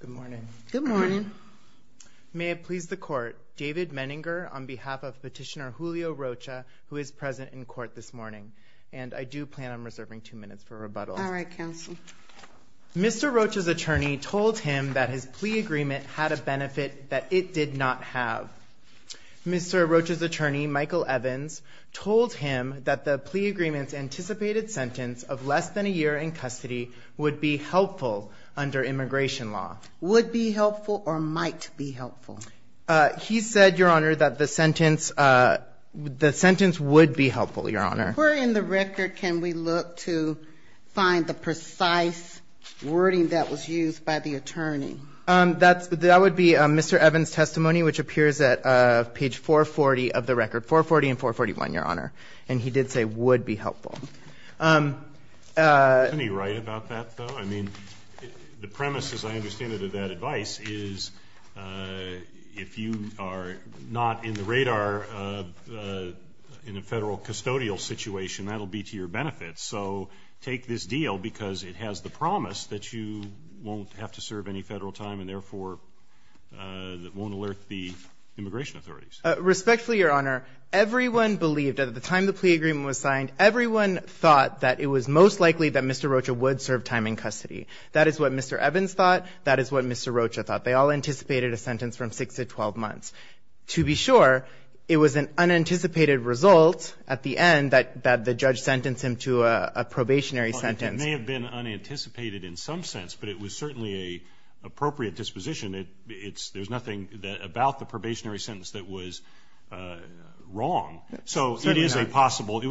Good morning. Good morning. May it please the court, David Menninger on behalf of petitioner Julio Rocha, who is present in court this morning, and I do plan on reserving two minutes for rebuttal. All right, counsel. Mr. Rocha's attorney told him that his plea agreement had a benefit that it did not have. Mr. Rocha's attorney, Michael Evans, told him that the plea agreement's anticipated sentence of less than a year in custody would be helpful under immigration law. Would be helpful or might be helpful? He said, Your Honor, that the sentence would be helpful, Your Honor. Where in the record can we look to find the precise wording that was used by the attorney? That would be Mr. Evans' testimony, which would be helpful. Isn't he right about that, though? I mean, the premise, as I understand it, of that advice is if you are not in the radar in a Federal custodial situation, that will be to your benefit. So take this deal, because it has the promise that you won't have to serve any Federal time and, therefore, won't alert the immigration authorities. Respectfully, Your Honor, everyone believed at the time the plea agreement was signed, everyone thought that it was most likely that Mr. Rocha would serve time in custody. That is what Mr. Evans thought. That is what Mr. Rocha thought. They all anticipated a sentence from 6 to 12 months. To be sure, it was an unanticipated result at the end that the judge sentenced him to a probationary sentence. Well, it may have been unanticipated in some sense, but it was certainly an appropriate disposition. There is nothing about the probationary sentence that was wrong. So it was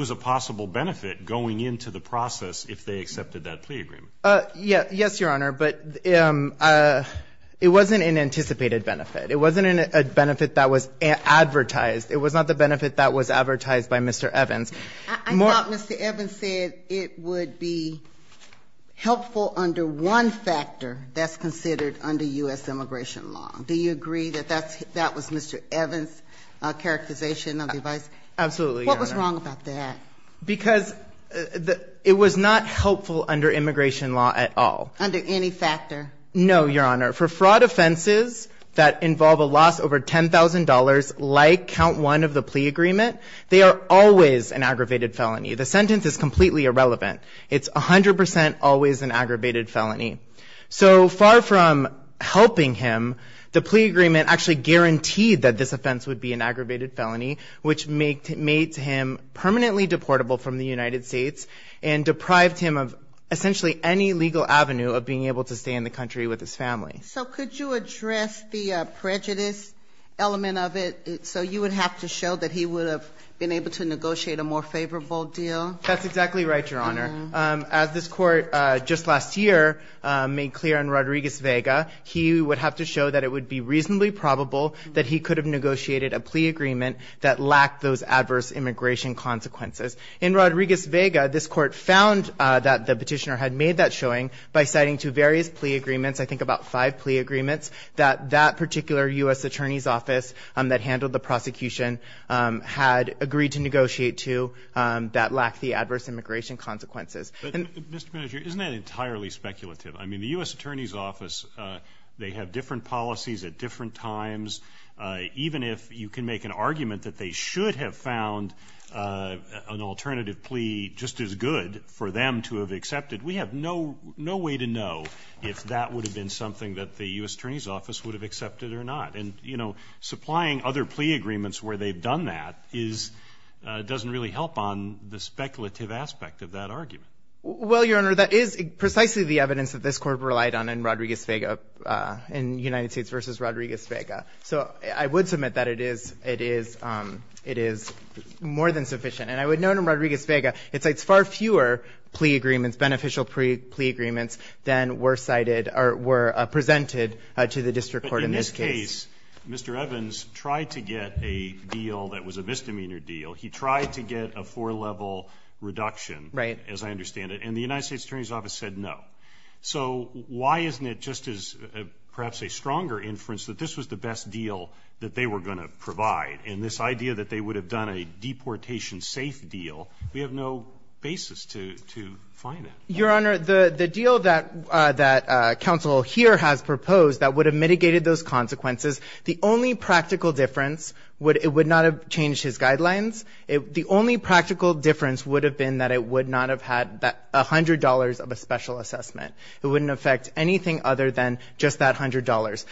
a possible benefit going into the process if they accepted that plea agreement. Yes, Your Honor, but it wasn't an anticipated benefit. It wasn't a benefit that was advertised. It was not the benefit that was advertised by Mr. Evans. I thought Mr. Evans said it would be helpful under one factor that's considered under U.S. immigration law. Do you agree that that was Mr. Evans' characterization of the advice? Absolutely, Your Honor. What was wrong about that? Because it was not helpful under immigration law at all. Under any factor? No, Your Honor. For fraud offenses that involve a loss over $10,000, like count one of the The sentence is completely irrelevant. It's 100% always an aggravated felony. So far from helping him, the plea agreement actually guaranteed that this offense would be an aggravated felony, which made him permanently deportable from the United States and deprived him of essentially any legal avenue of being able to stay in the country with his family. So could you address the prejudice element of it? So you would have to show that he would have been able to negotiate a more favorable deal? That's exactly right, Your Honor. As this court just last year made clear in Rodriguez-Vega, he would have to show that it would be reasonably probable that he could have negotiated a plea agreement that lacked those adverse immigration consequences. In Rodriguez-Vega, this court found that the petitioner had made that showing by citing to various plea agreements, I think about five plea agreements, that that particular U.S. Attorney's Office that handled the prosecution had agreed to negotiate to that lacked the adverse immigration consequences. But, Mr. Manager, isn't that entirely speculative? I mean, the U.S. Attorney's Office, they have different policies at different times. Even if you can make an argument that they should have found an alternative plea just as good for them to have accepted, we have no way to know if that would have been something that the U.S. Attorney's Office would have done that. And, you know, supplying other plea agreements where they've done that is — doesn't really help on the speculative aspect of that argument. Well, Your Honor, that is precisely the evidence that this Court relied on in Rodriguez-Vega — in United States v. Rodriguez-Vega. So I would submit that it is — it is — it is more than sufficient. And I would note in Rodriguez-Vega, it cites far fewer plea agreements, beneficial plea agreements than were cited or were presented to the district court in this case. In this case, Mr. Evans tried to get a deal that was a misdemeanor deal. He tried to get a four-level reduction — Right. — as I understand it. And the United States Attorney's Office said no. So why isn't it, just as perhaps a stronger inference, that this was the best deal that they were going to provide? And this idea that they would have done a deportation-safe deal, we have no basis to — to find that. Your Honor, the — the deal that — that counsel here has proposed that would have consequences, the only practical difference would — it would not have changed his guidelines. The only practical difference would have been that it would not have had that $100 of a special assessment. It wouldn't affect anything other than just that $100.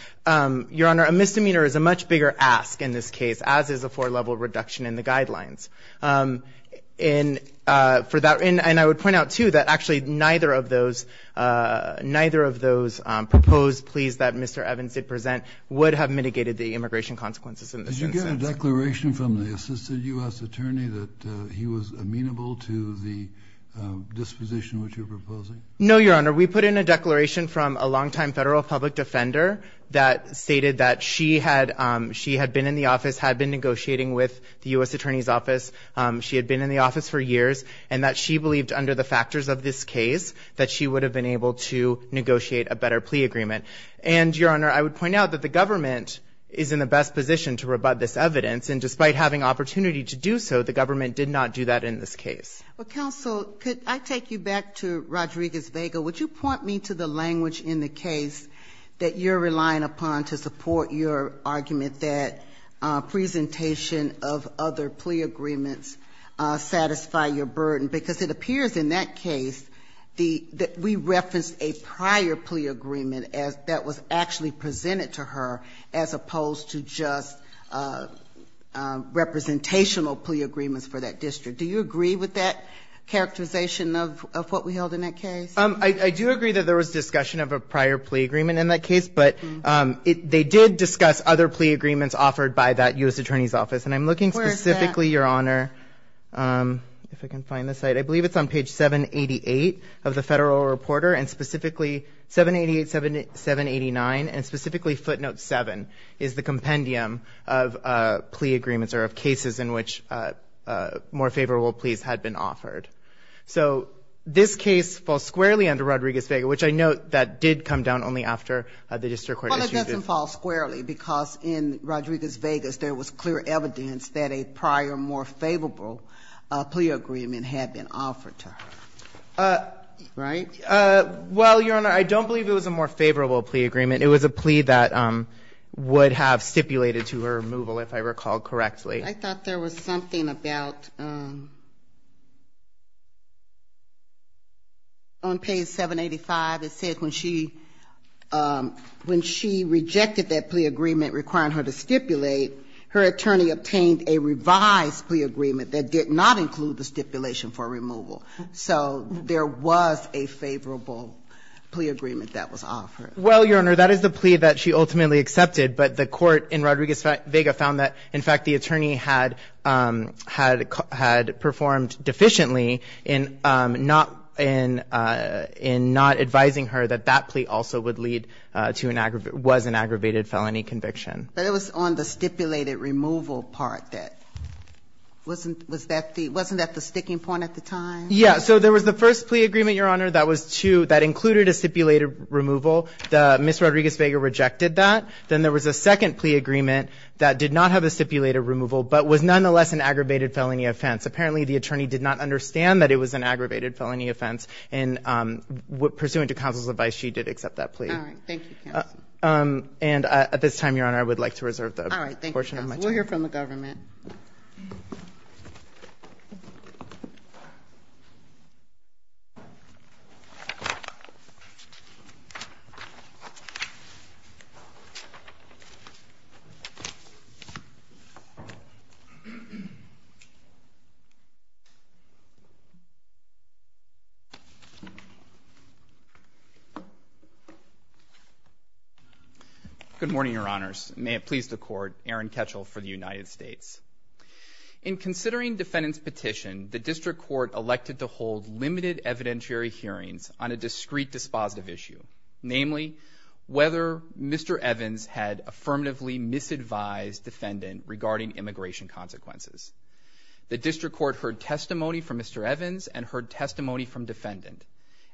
Your Honor, a misdemeanor is a much bigger ask in this case, as is a four-level reduction in the guidelines. And for that — and I would point out, too, that actually neither of those — neither of those proposed pleas that Mr. Evans did present would have mitigated the immigration consequences in this instance. Did you get a declaration from the assisted U.S. attorney that he was amenable to the disposition which you're proposing? No, Your Honor. We put in a declaration from a longtime federal public defender that stated that she had — she had been in the office, had been negotiating with the U.S. Attorney's Office. She had been in the office for years, and that she would have been able to negotiate a better plea agreement. And Your Honor, I would point out that the government is in the best position to rebut this evidence, and despite having opportunity to do so, the government did not do that in this case. Well, counsel, could I take you back to Rodriguez-Vega? Would you point me to the language in the case that you're relying upon to support your argument that presentation of other plea agreements satisfy your burden? Because it appears in that case that we referenced a prior plea agreement that was actually presented to her as opposed to just representational plea agreements for that district. Do you agree with that characterization of what we held in that case? I do agree that there was discussion of a prior plea agreement in that case, but they did discuss other plea agreements offered by that U.S. Attorney's Office, and I'm looking specifically, Your Honor, if I can find the site, I believe it's on page 788 of the Federal Reporter, and specifically, 788, 789, and specifically footnote 7 is the compendium of plea agreements or of cases in which more favorable pleas had been offered. So this case falls squarely under Rodriguez-Vega, which I note that did come down only after the district court issued the... that a prior more favorable plea agreement had been offered to her. Right? Well, Your Honor, I don't believe it was a more favorable plea agreement. It was a plea that would have stipulated to her removal, if I recall correctly. I thought there was something about, on page 785, it said when she, when she rejected that plea agreement requiring her to stipulate, her attorney obtained a revised plea agreement that did not include the stipulation for removal. So there was a favorable plea agreement that was offered. Well, Your Honor, that is the plea that she ultimately accepted, but the court in Rodriguez-Vega found that, in fact, the attorney had performed deficiently in not advising her that that plea also would lead to an aggravated, was an aggravated felony conviction. But it was on the stipulated removal part that, wasn't, was that the, wasn't that the sticking point at the time? Yeah. So there was the first plea agreement, Your Honor, that was to, that included a stipulated removal. The, Ms. Rodriguez-Vega rejected that. Then there was a second plea agreement that did not have a stipulated removal, but was nonetheless an aggravated felony offense. Apparently, the attorney did not understand that it was an aggravated felony offense. And pursuant to counsel's advice, she did accept that plea. All right. Thank you, counsel. And at this time, Your Honor, I would like to reserve the portion of my time. All right. Thank you, counsel. We'll hear from the government. Good morning, Your Honors. May it please the Court, Aaron Ketchel for the United States. In considering defendant's petition, the district court elected to hold limited evidentiary hearings on a discrete dispositive issue, namely, whether Mr. Evans had affirmatively misadvised defendant regarding immigration consequences. The district court heard testimony from Mr. Evans and heard testimony from Ms.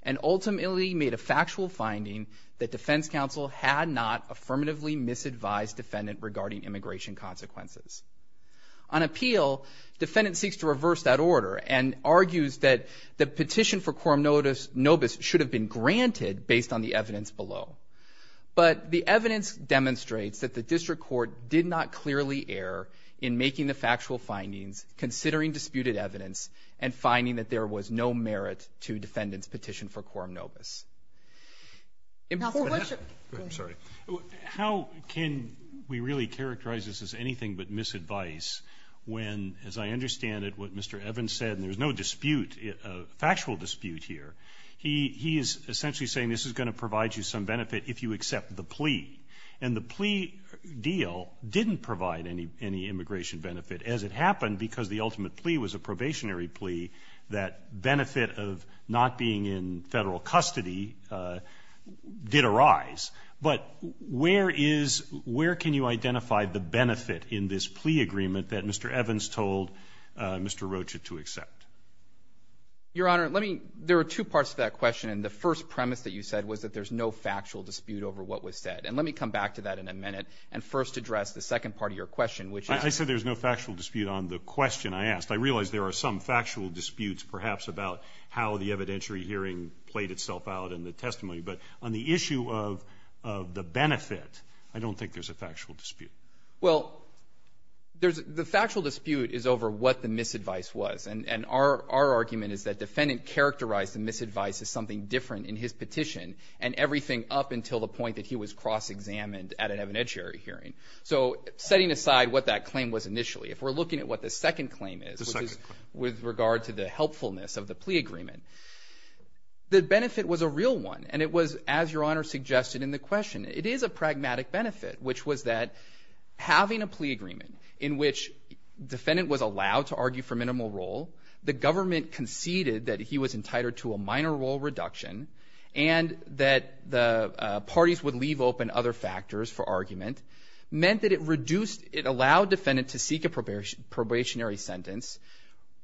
And ultimately made a factual finding that defense counsel had not affirmatively misadvised defendant regarding immigration consequences. On appeal, defendant seeks to reverse that order and argues that the petition for quorum nobis should have been granted based on the evidence below. But the evidence demonstrates that the district court did not clearly err in making the factual findings, considering disputed evidence, and finding that there was no merit to defendant's petition for quorum nobis. Counsel, what's your... I'm sorry. How can we really characterize this as anything but misadvice when, as I understand it, what Mr. Evans said, and there's no dispute, factual dispute here, he is essentially saying this is going to provide you some benefit if you accept the plea. And the plea deal didn't provide any immigration benefit as it happened because the ultimate plea was a probationary plea. That benefit of not being in Federal custody did arise. But where is — where can you identify the benefit in this plea agreement that Mr. Evans told Mr. Rocha to accept? Your Honor, let me — there are two parts to that question. The first premise that you said was that there's no factual dispute over what was said. And let me come back to that in a minute and first address the second part of your question, which is... I said there's no factual dispute on the question I asked. I realize there are some factual disputes, perhaps, about how the evidentiary hearing played itself out in the testimony. But on the issue of the benefit, I don't think there's a factual dispute. Well, there's — the factual dispute is over what the misadvice was. And our argument is that defendant characterized the misadvice as something different in his petition and everything up until the point that he was cross-examined at an evidentiary hearing. So setting aside what that claim was initially, if we're looking at what the second claim is, which is with regard to the helpfulness of the plea agreement, the benefit was a real one. And it was, as Your Honor suggested in the question, it is a pragmatic benefit, which was that having a plea agreement in which defendant was allowed to argue for removal, the government conceded that he was entitled to a minor role reduction, and that the parties would leave open other factors for argument, meant that it reduced — it allowed defendant to seek a probationary sentence,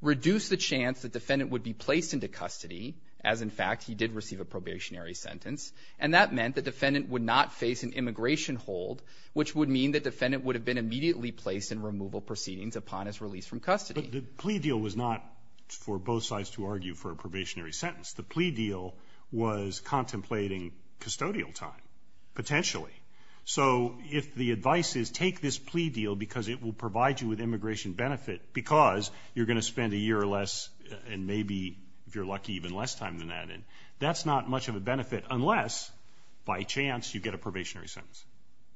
reduced the chance that defendant would be placed into custody, as, in fact, he did receive a probationary sentence. And that meant that defendant would not face an immigration hold, which would mean that defendant would have been immediately placed in removal proceedings upon his release from custody. But the plea deal was not for both sides to argue for a probationary sentence. The plea deal was contemplating custodial time, potentially. So if the advice is, take this plea deal because it will provide you with immigration benefit because you're going to spend a year or less, and maybe, if you're lucky, even less time than that, that's not much of a benefit unless, by chance, you get a probationary sentence.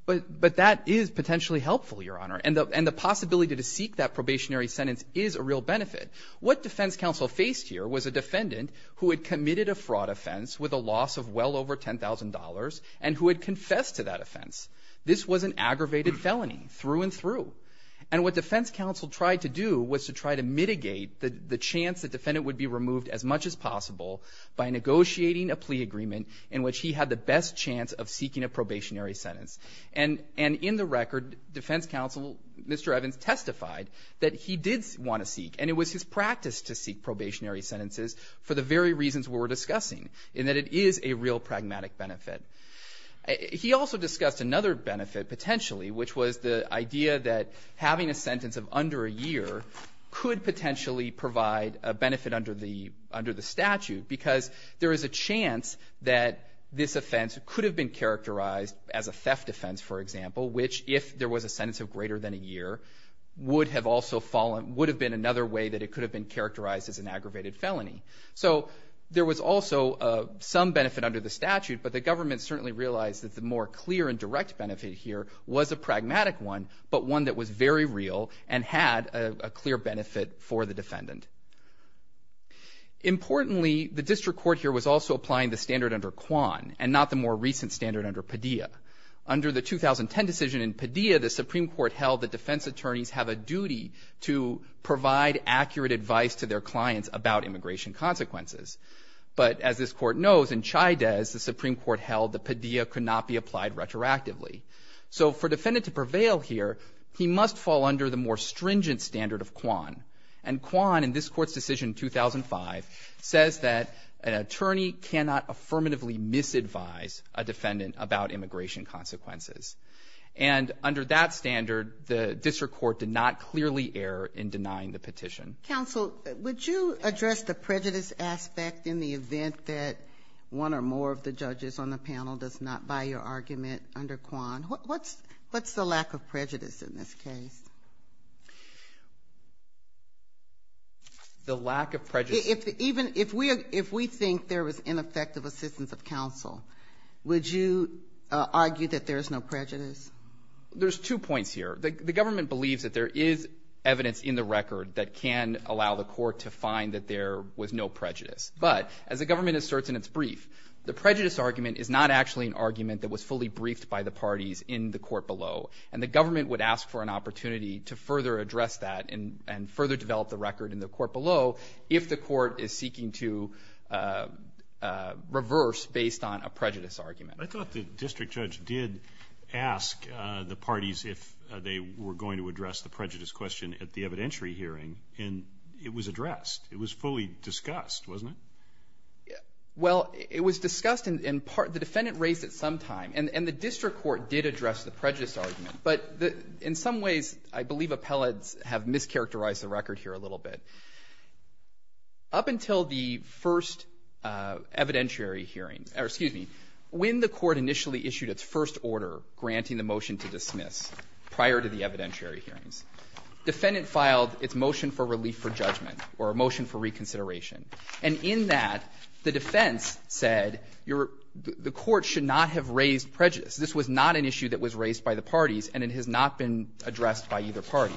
But that is potentially helpful, Your Honor. And the possibility to seek that probationary sentence is a real benefit. What defense counsel faced here was a defendant who had committed a fraud offense with a loss of well over $10,000 and who had confessed to that offense. This was an aggravated felony through and through. And what defense counsel tried to do was to try to mitigate the chance that defendant would be removed as much as possible by negotiating a plea agreement in which he had the best chance of seeking a probationary sentence. And in the record, defense counsel, Mr. Evans, testified that he did want to seek and it was his practice to seek probationary sentences for the very reasons we were discussing, in that it is a real pragmatic benefit. He also discussed another benefit, potentially, which was the idea that having a sentence of under a year could potentially provide a benefit under the statute because there is a chance that this offense could have been characterized as a theft defense, for example, which, if there was a sentence of greater than a year, would have been another way that it could have been characterized as an aggravated felony. So there was also some benefit under the statute, but the government certainly realized that the more clear and direct benefit here was a pragmatic one, but one that was very real and had a clear benefit for the defendant. Importantly, the district court here was also applying the standard under Kwan and not the more recent standard under Padilla. Under the 2010 decision in Padilla, the Supreme Court held that defense attorneys have a duty to provide accurate advice to their clients about immigration consequences. But as this court knows, in Chaydez, the Supreme Court held that Padilla could not be applied retroactively. So for a defendant to prevail here, he must fall under the more stringent standard of Kwan. And Kwan, in this court's decision in 2005, says that an attorney cannot affirmatively misadvise a defendant about immigration consequences. And under that standard, the district court did not clearly err in denying the petition. Counsel, would you address the prejudice aspect in the event that one or more of the judges on the panel does not buy your argument under Kwan? What's the lack of prejudice in this case? The lack of prejudice... Even if we think there was ineffective assistance of counsel, would you argue that there is no prejudice? There's two points here. The government believes that there is evidence in the record that can allow the court to find that there was no prejudice. But as the government asserts in its brief, the prejudice argument is not actually an argument that was fully briefed by the parties in the court below. And the government would ask for an opportunity to further address that and further develop the record in the court below if the court is seeking to reverse based on a prejudice argument. I thought the district judge did ask the parties if they were going to address the prejudice question at the evidentiary hearing, and it was addressed. It was fully discussed, wasn't it? Well, it was discussed, and the defendant raised it sometime. And the district court did address the prejudice argument, but in some ways I believe appellates have mischaracterized the record here a little bit. Up until the first evidentiary hearing, or excuse me, when the court initially issued its first order granting the motion to dismiss prior to the evidentiary hearings, defendant filed its motion for relief for judgment or a motion for reconsideration. And in that, the defense said the court should not have raised prejudice. This was not an issue that was raised by the parties, and it has not been addressed by either party.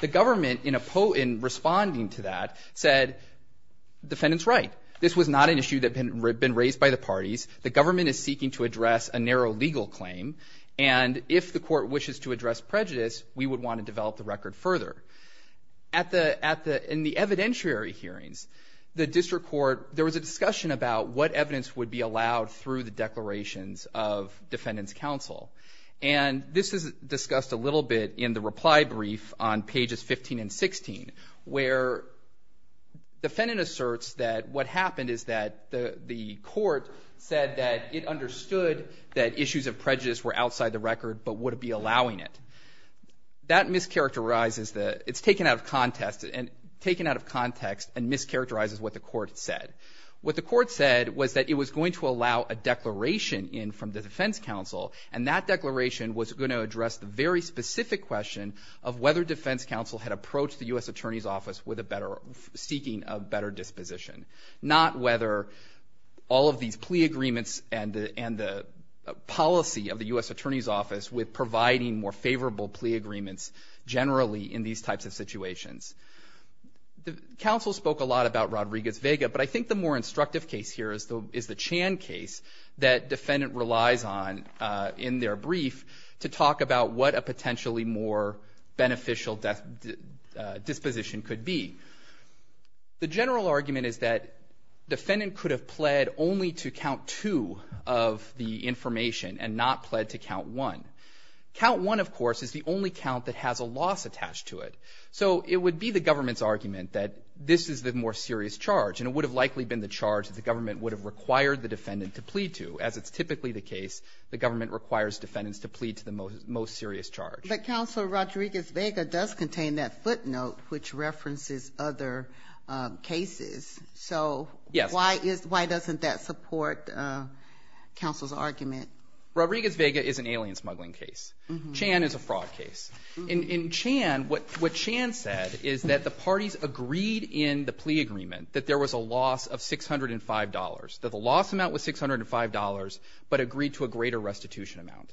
The government, in responding to that, said defendant's right. This was not an issue that had been raised by the parties. The government is seeking to address a narrow legal claim, and if the court wishes to address prejudice, we would want to develop the record further. In the evidentiary hearings, the district court, there was a discussion about what evidence would be allowed through the declarations of defendant's counsel. And this is discussed a little bit in the reply brief on pages 15 and 16, where defendant asserts that what happened is that the court said that it understood that issues of prejudice were outside the record but would be allowing it. That mischaracterizes, it's taken out of context and mischaracterizes what the court said. What the court said was that it was going to allow a declaration in from the defense counsel, and that declaration was going to address the very specific question of whether defense counsel had approached the U.S. Attorney's Office seeking a better disposition. Not whether all of these plea agreements and the policy of the U.S. Attorney's Office with providing more favorable plea agreements generally in these types of situations. Counsel spoke a lot about Rodriguez-Vega, but I think the more instructive case here is the Chan case that defendant relies on in their brief to talk about what a potentially more beneficial disposition could be. The general argument is that defendant could have pled only to count two of the information and not pled to count one. Count one, of course, is the only count that has a loss attached to it. So it would be the government's argument that this is the more serious charge and it would have likely been the charge that the government would have required the defendant to plead to. As it's typically the case, the government requires defendants to plead to the most serious charge. But counsel, Rodriguez-Vega does contain that footnote which references other cases. So why doesn't that support counsel's argument? Rodriguez-Vega is an alien smuggling case. Chan is a fraud case. In Chan, what Chan said is that the parties agreed in the plea agreement that there was a loss of $605, that the loss amount was $605 but agreed to a greater restitution amount.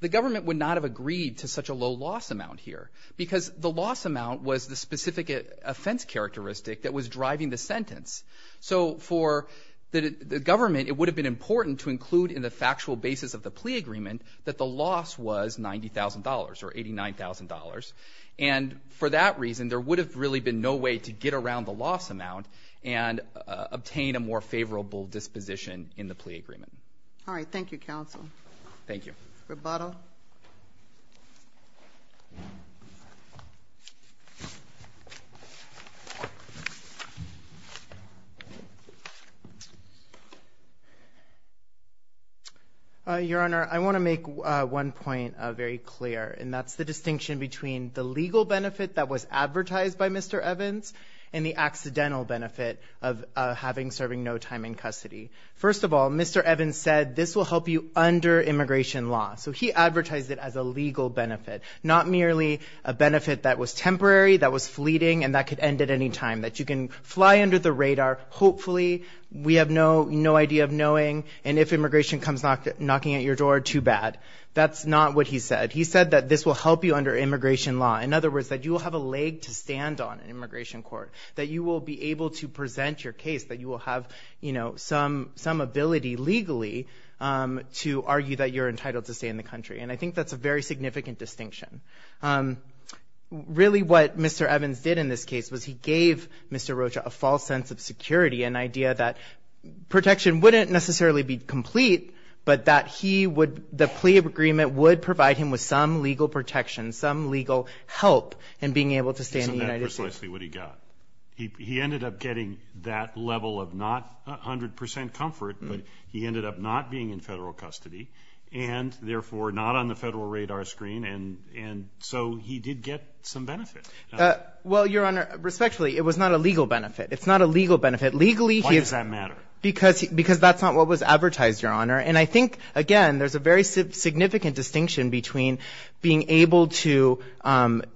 The government would not have agreed to such a low loss amount here because the loss amount was the specific offense characteristic that was driving the sentence. So for the government, it would have been important to include in the factual basis of the plea agreement that the loss was $90,000 or $89,000 and for that reason, there would have really been no way to get around the loss amount and obtain a more favorable disposition in the plea agreement. Thank you, counsel. Rebuttal. Your Honor, I want to make one point very clear and that's the distinction between the legal benefit that was advertised by Mr. Evans and the accidental benefit of having serving no time in custody. First of all, Mr. Evans said this will help you under immigration law, so he advertised it as a legal benefit not merely a benefit that was temporary, that was fleeting and that could end at any time that you can fly under the radar, hopefully we have no idea of knowing and if immigration comes knocking at your door, too bad. That's not what he said. He said that this will help you under immigration law. In other words, that you will have a leg to stand on in immigration court, that you will be able to present your case, that you will have some ability legally to argue that you're entitled to stay in the country and I think that's a very significant distinction. Really what Mr. Evans did in this case was he gave Mr. Rocha a false sense of security, an idea that protection wouldn't necessarily be complete but that the plea agreement would provide him with some legal protection, some legal help in being able to stay in the United States. He ended up getting that level of not 100% comfort, but he ended up not being in federal custody and therefore not on the federal radar screen and so he did get some benefit. Well, Your Honor, respectfully, it was not a legal benefit. It's not a legal benefit. Why does that matter? Because that's not what was advertised, Your Honor. And I think, again, there's a very significant distinction between being able to,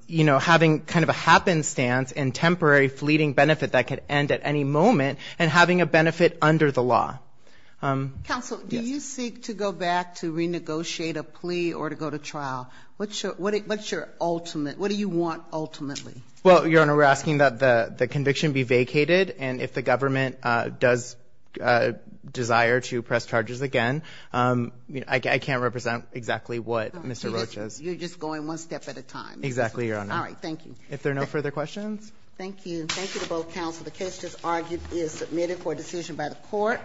you know, having kind of a happenstance and temporary fleeting benefit that could end at any moment and having a benefit under the law. Counsel, do you seek to go back to renegotiate a plea or to go to trial? What's your ultimate? What do you want ultimately? Well, Your Honor, we're asking that the conviction be vacated and if the government does desire to press charges again I can't represent exactly what Mr. Roach is. You're just going one step at a time. Exactly, Your Honor. All right, thank you. If there are no further questions? Thank you. Thank you to both counsel. The case just argued is submitted for decision by the court.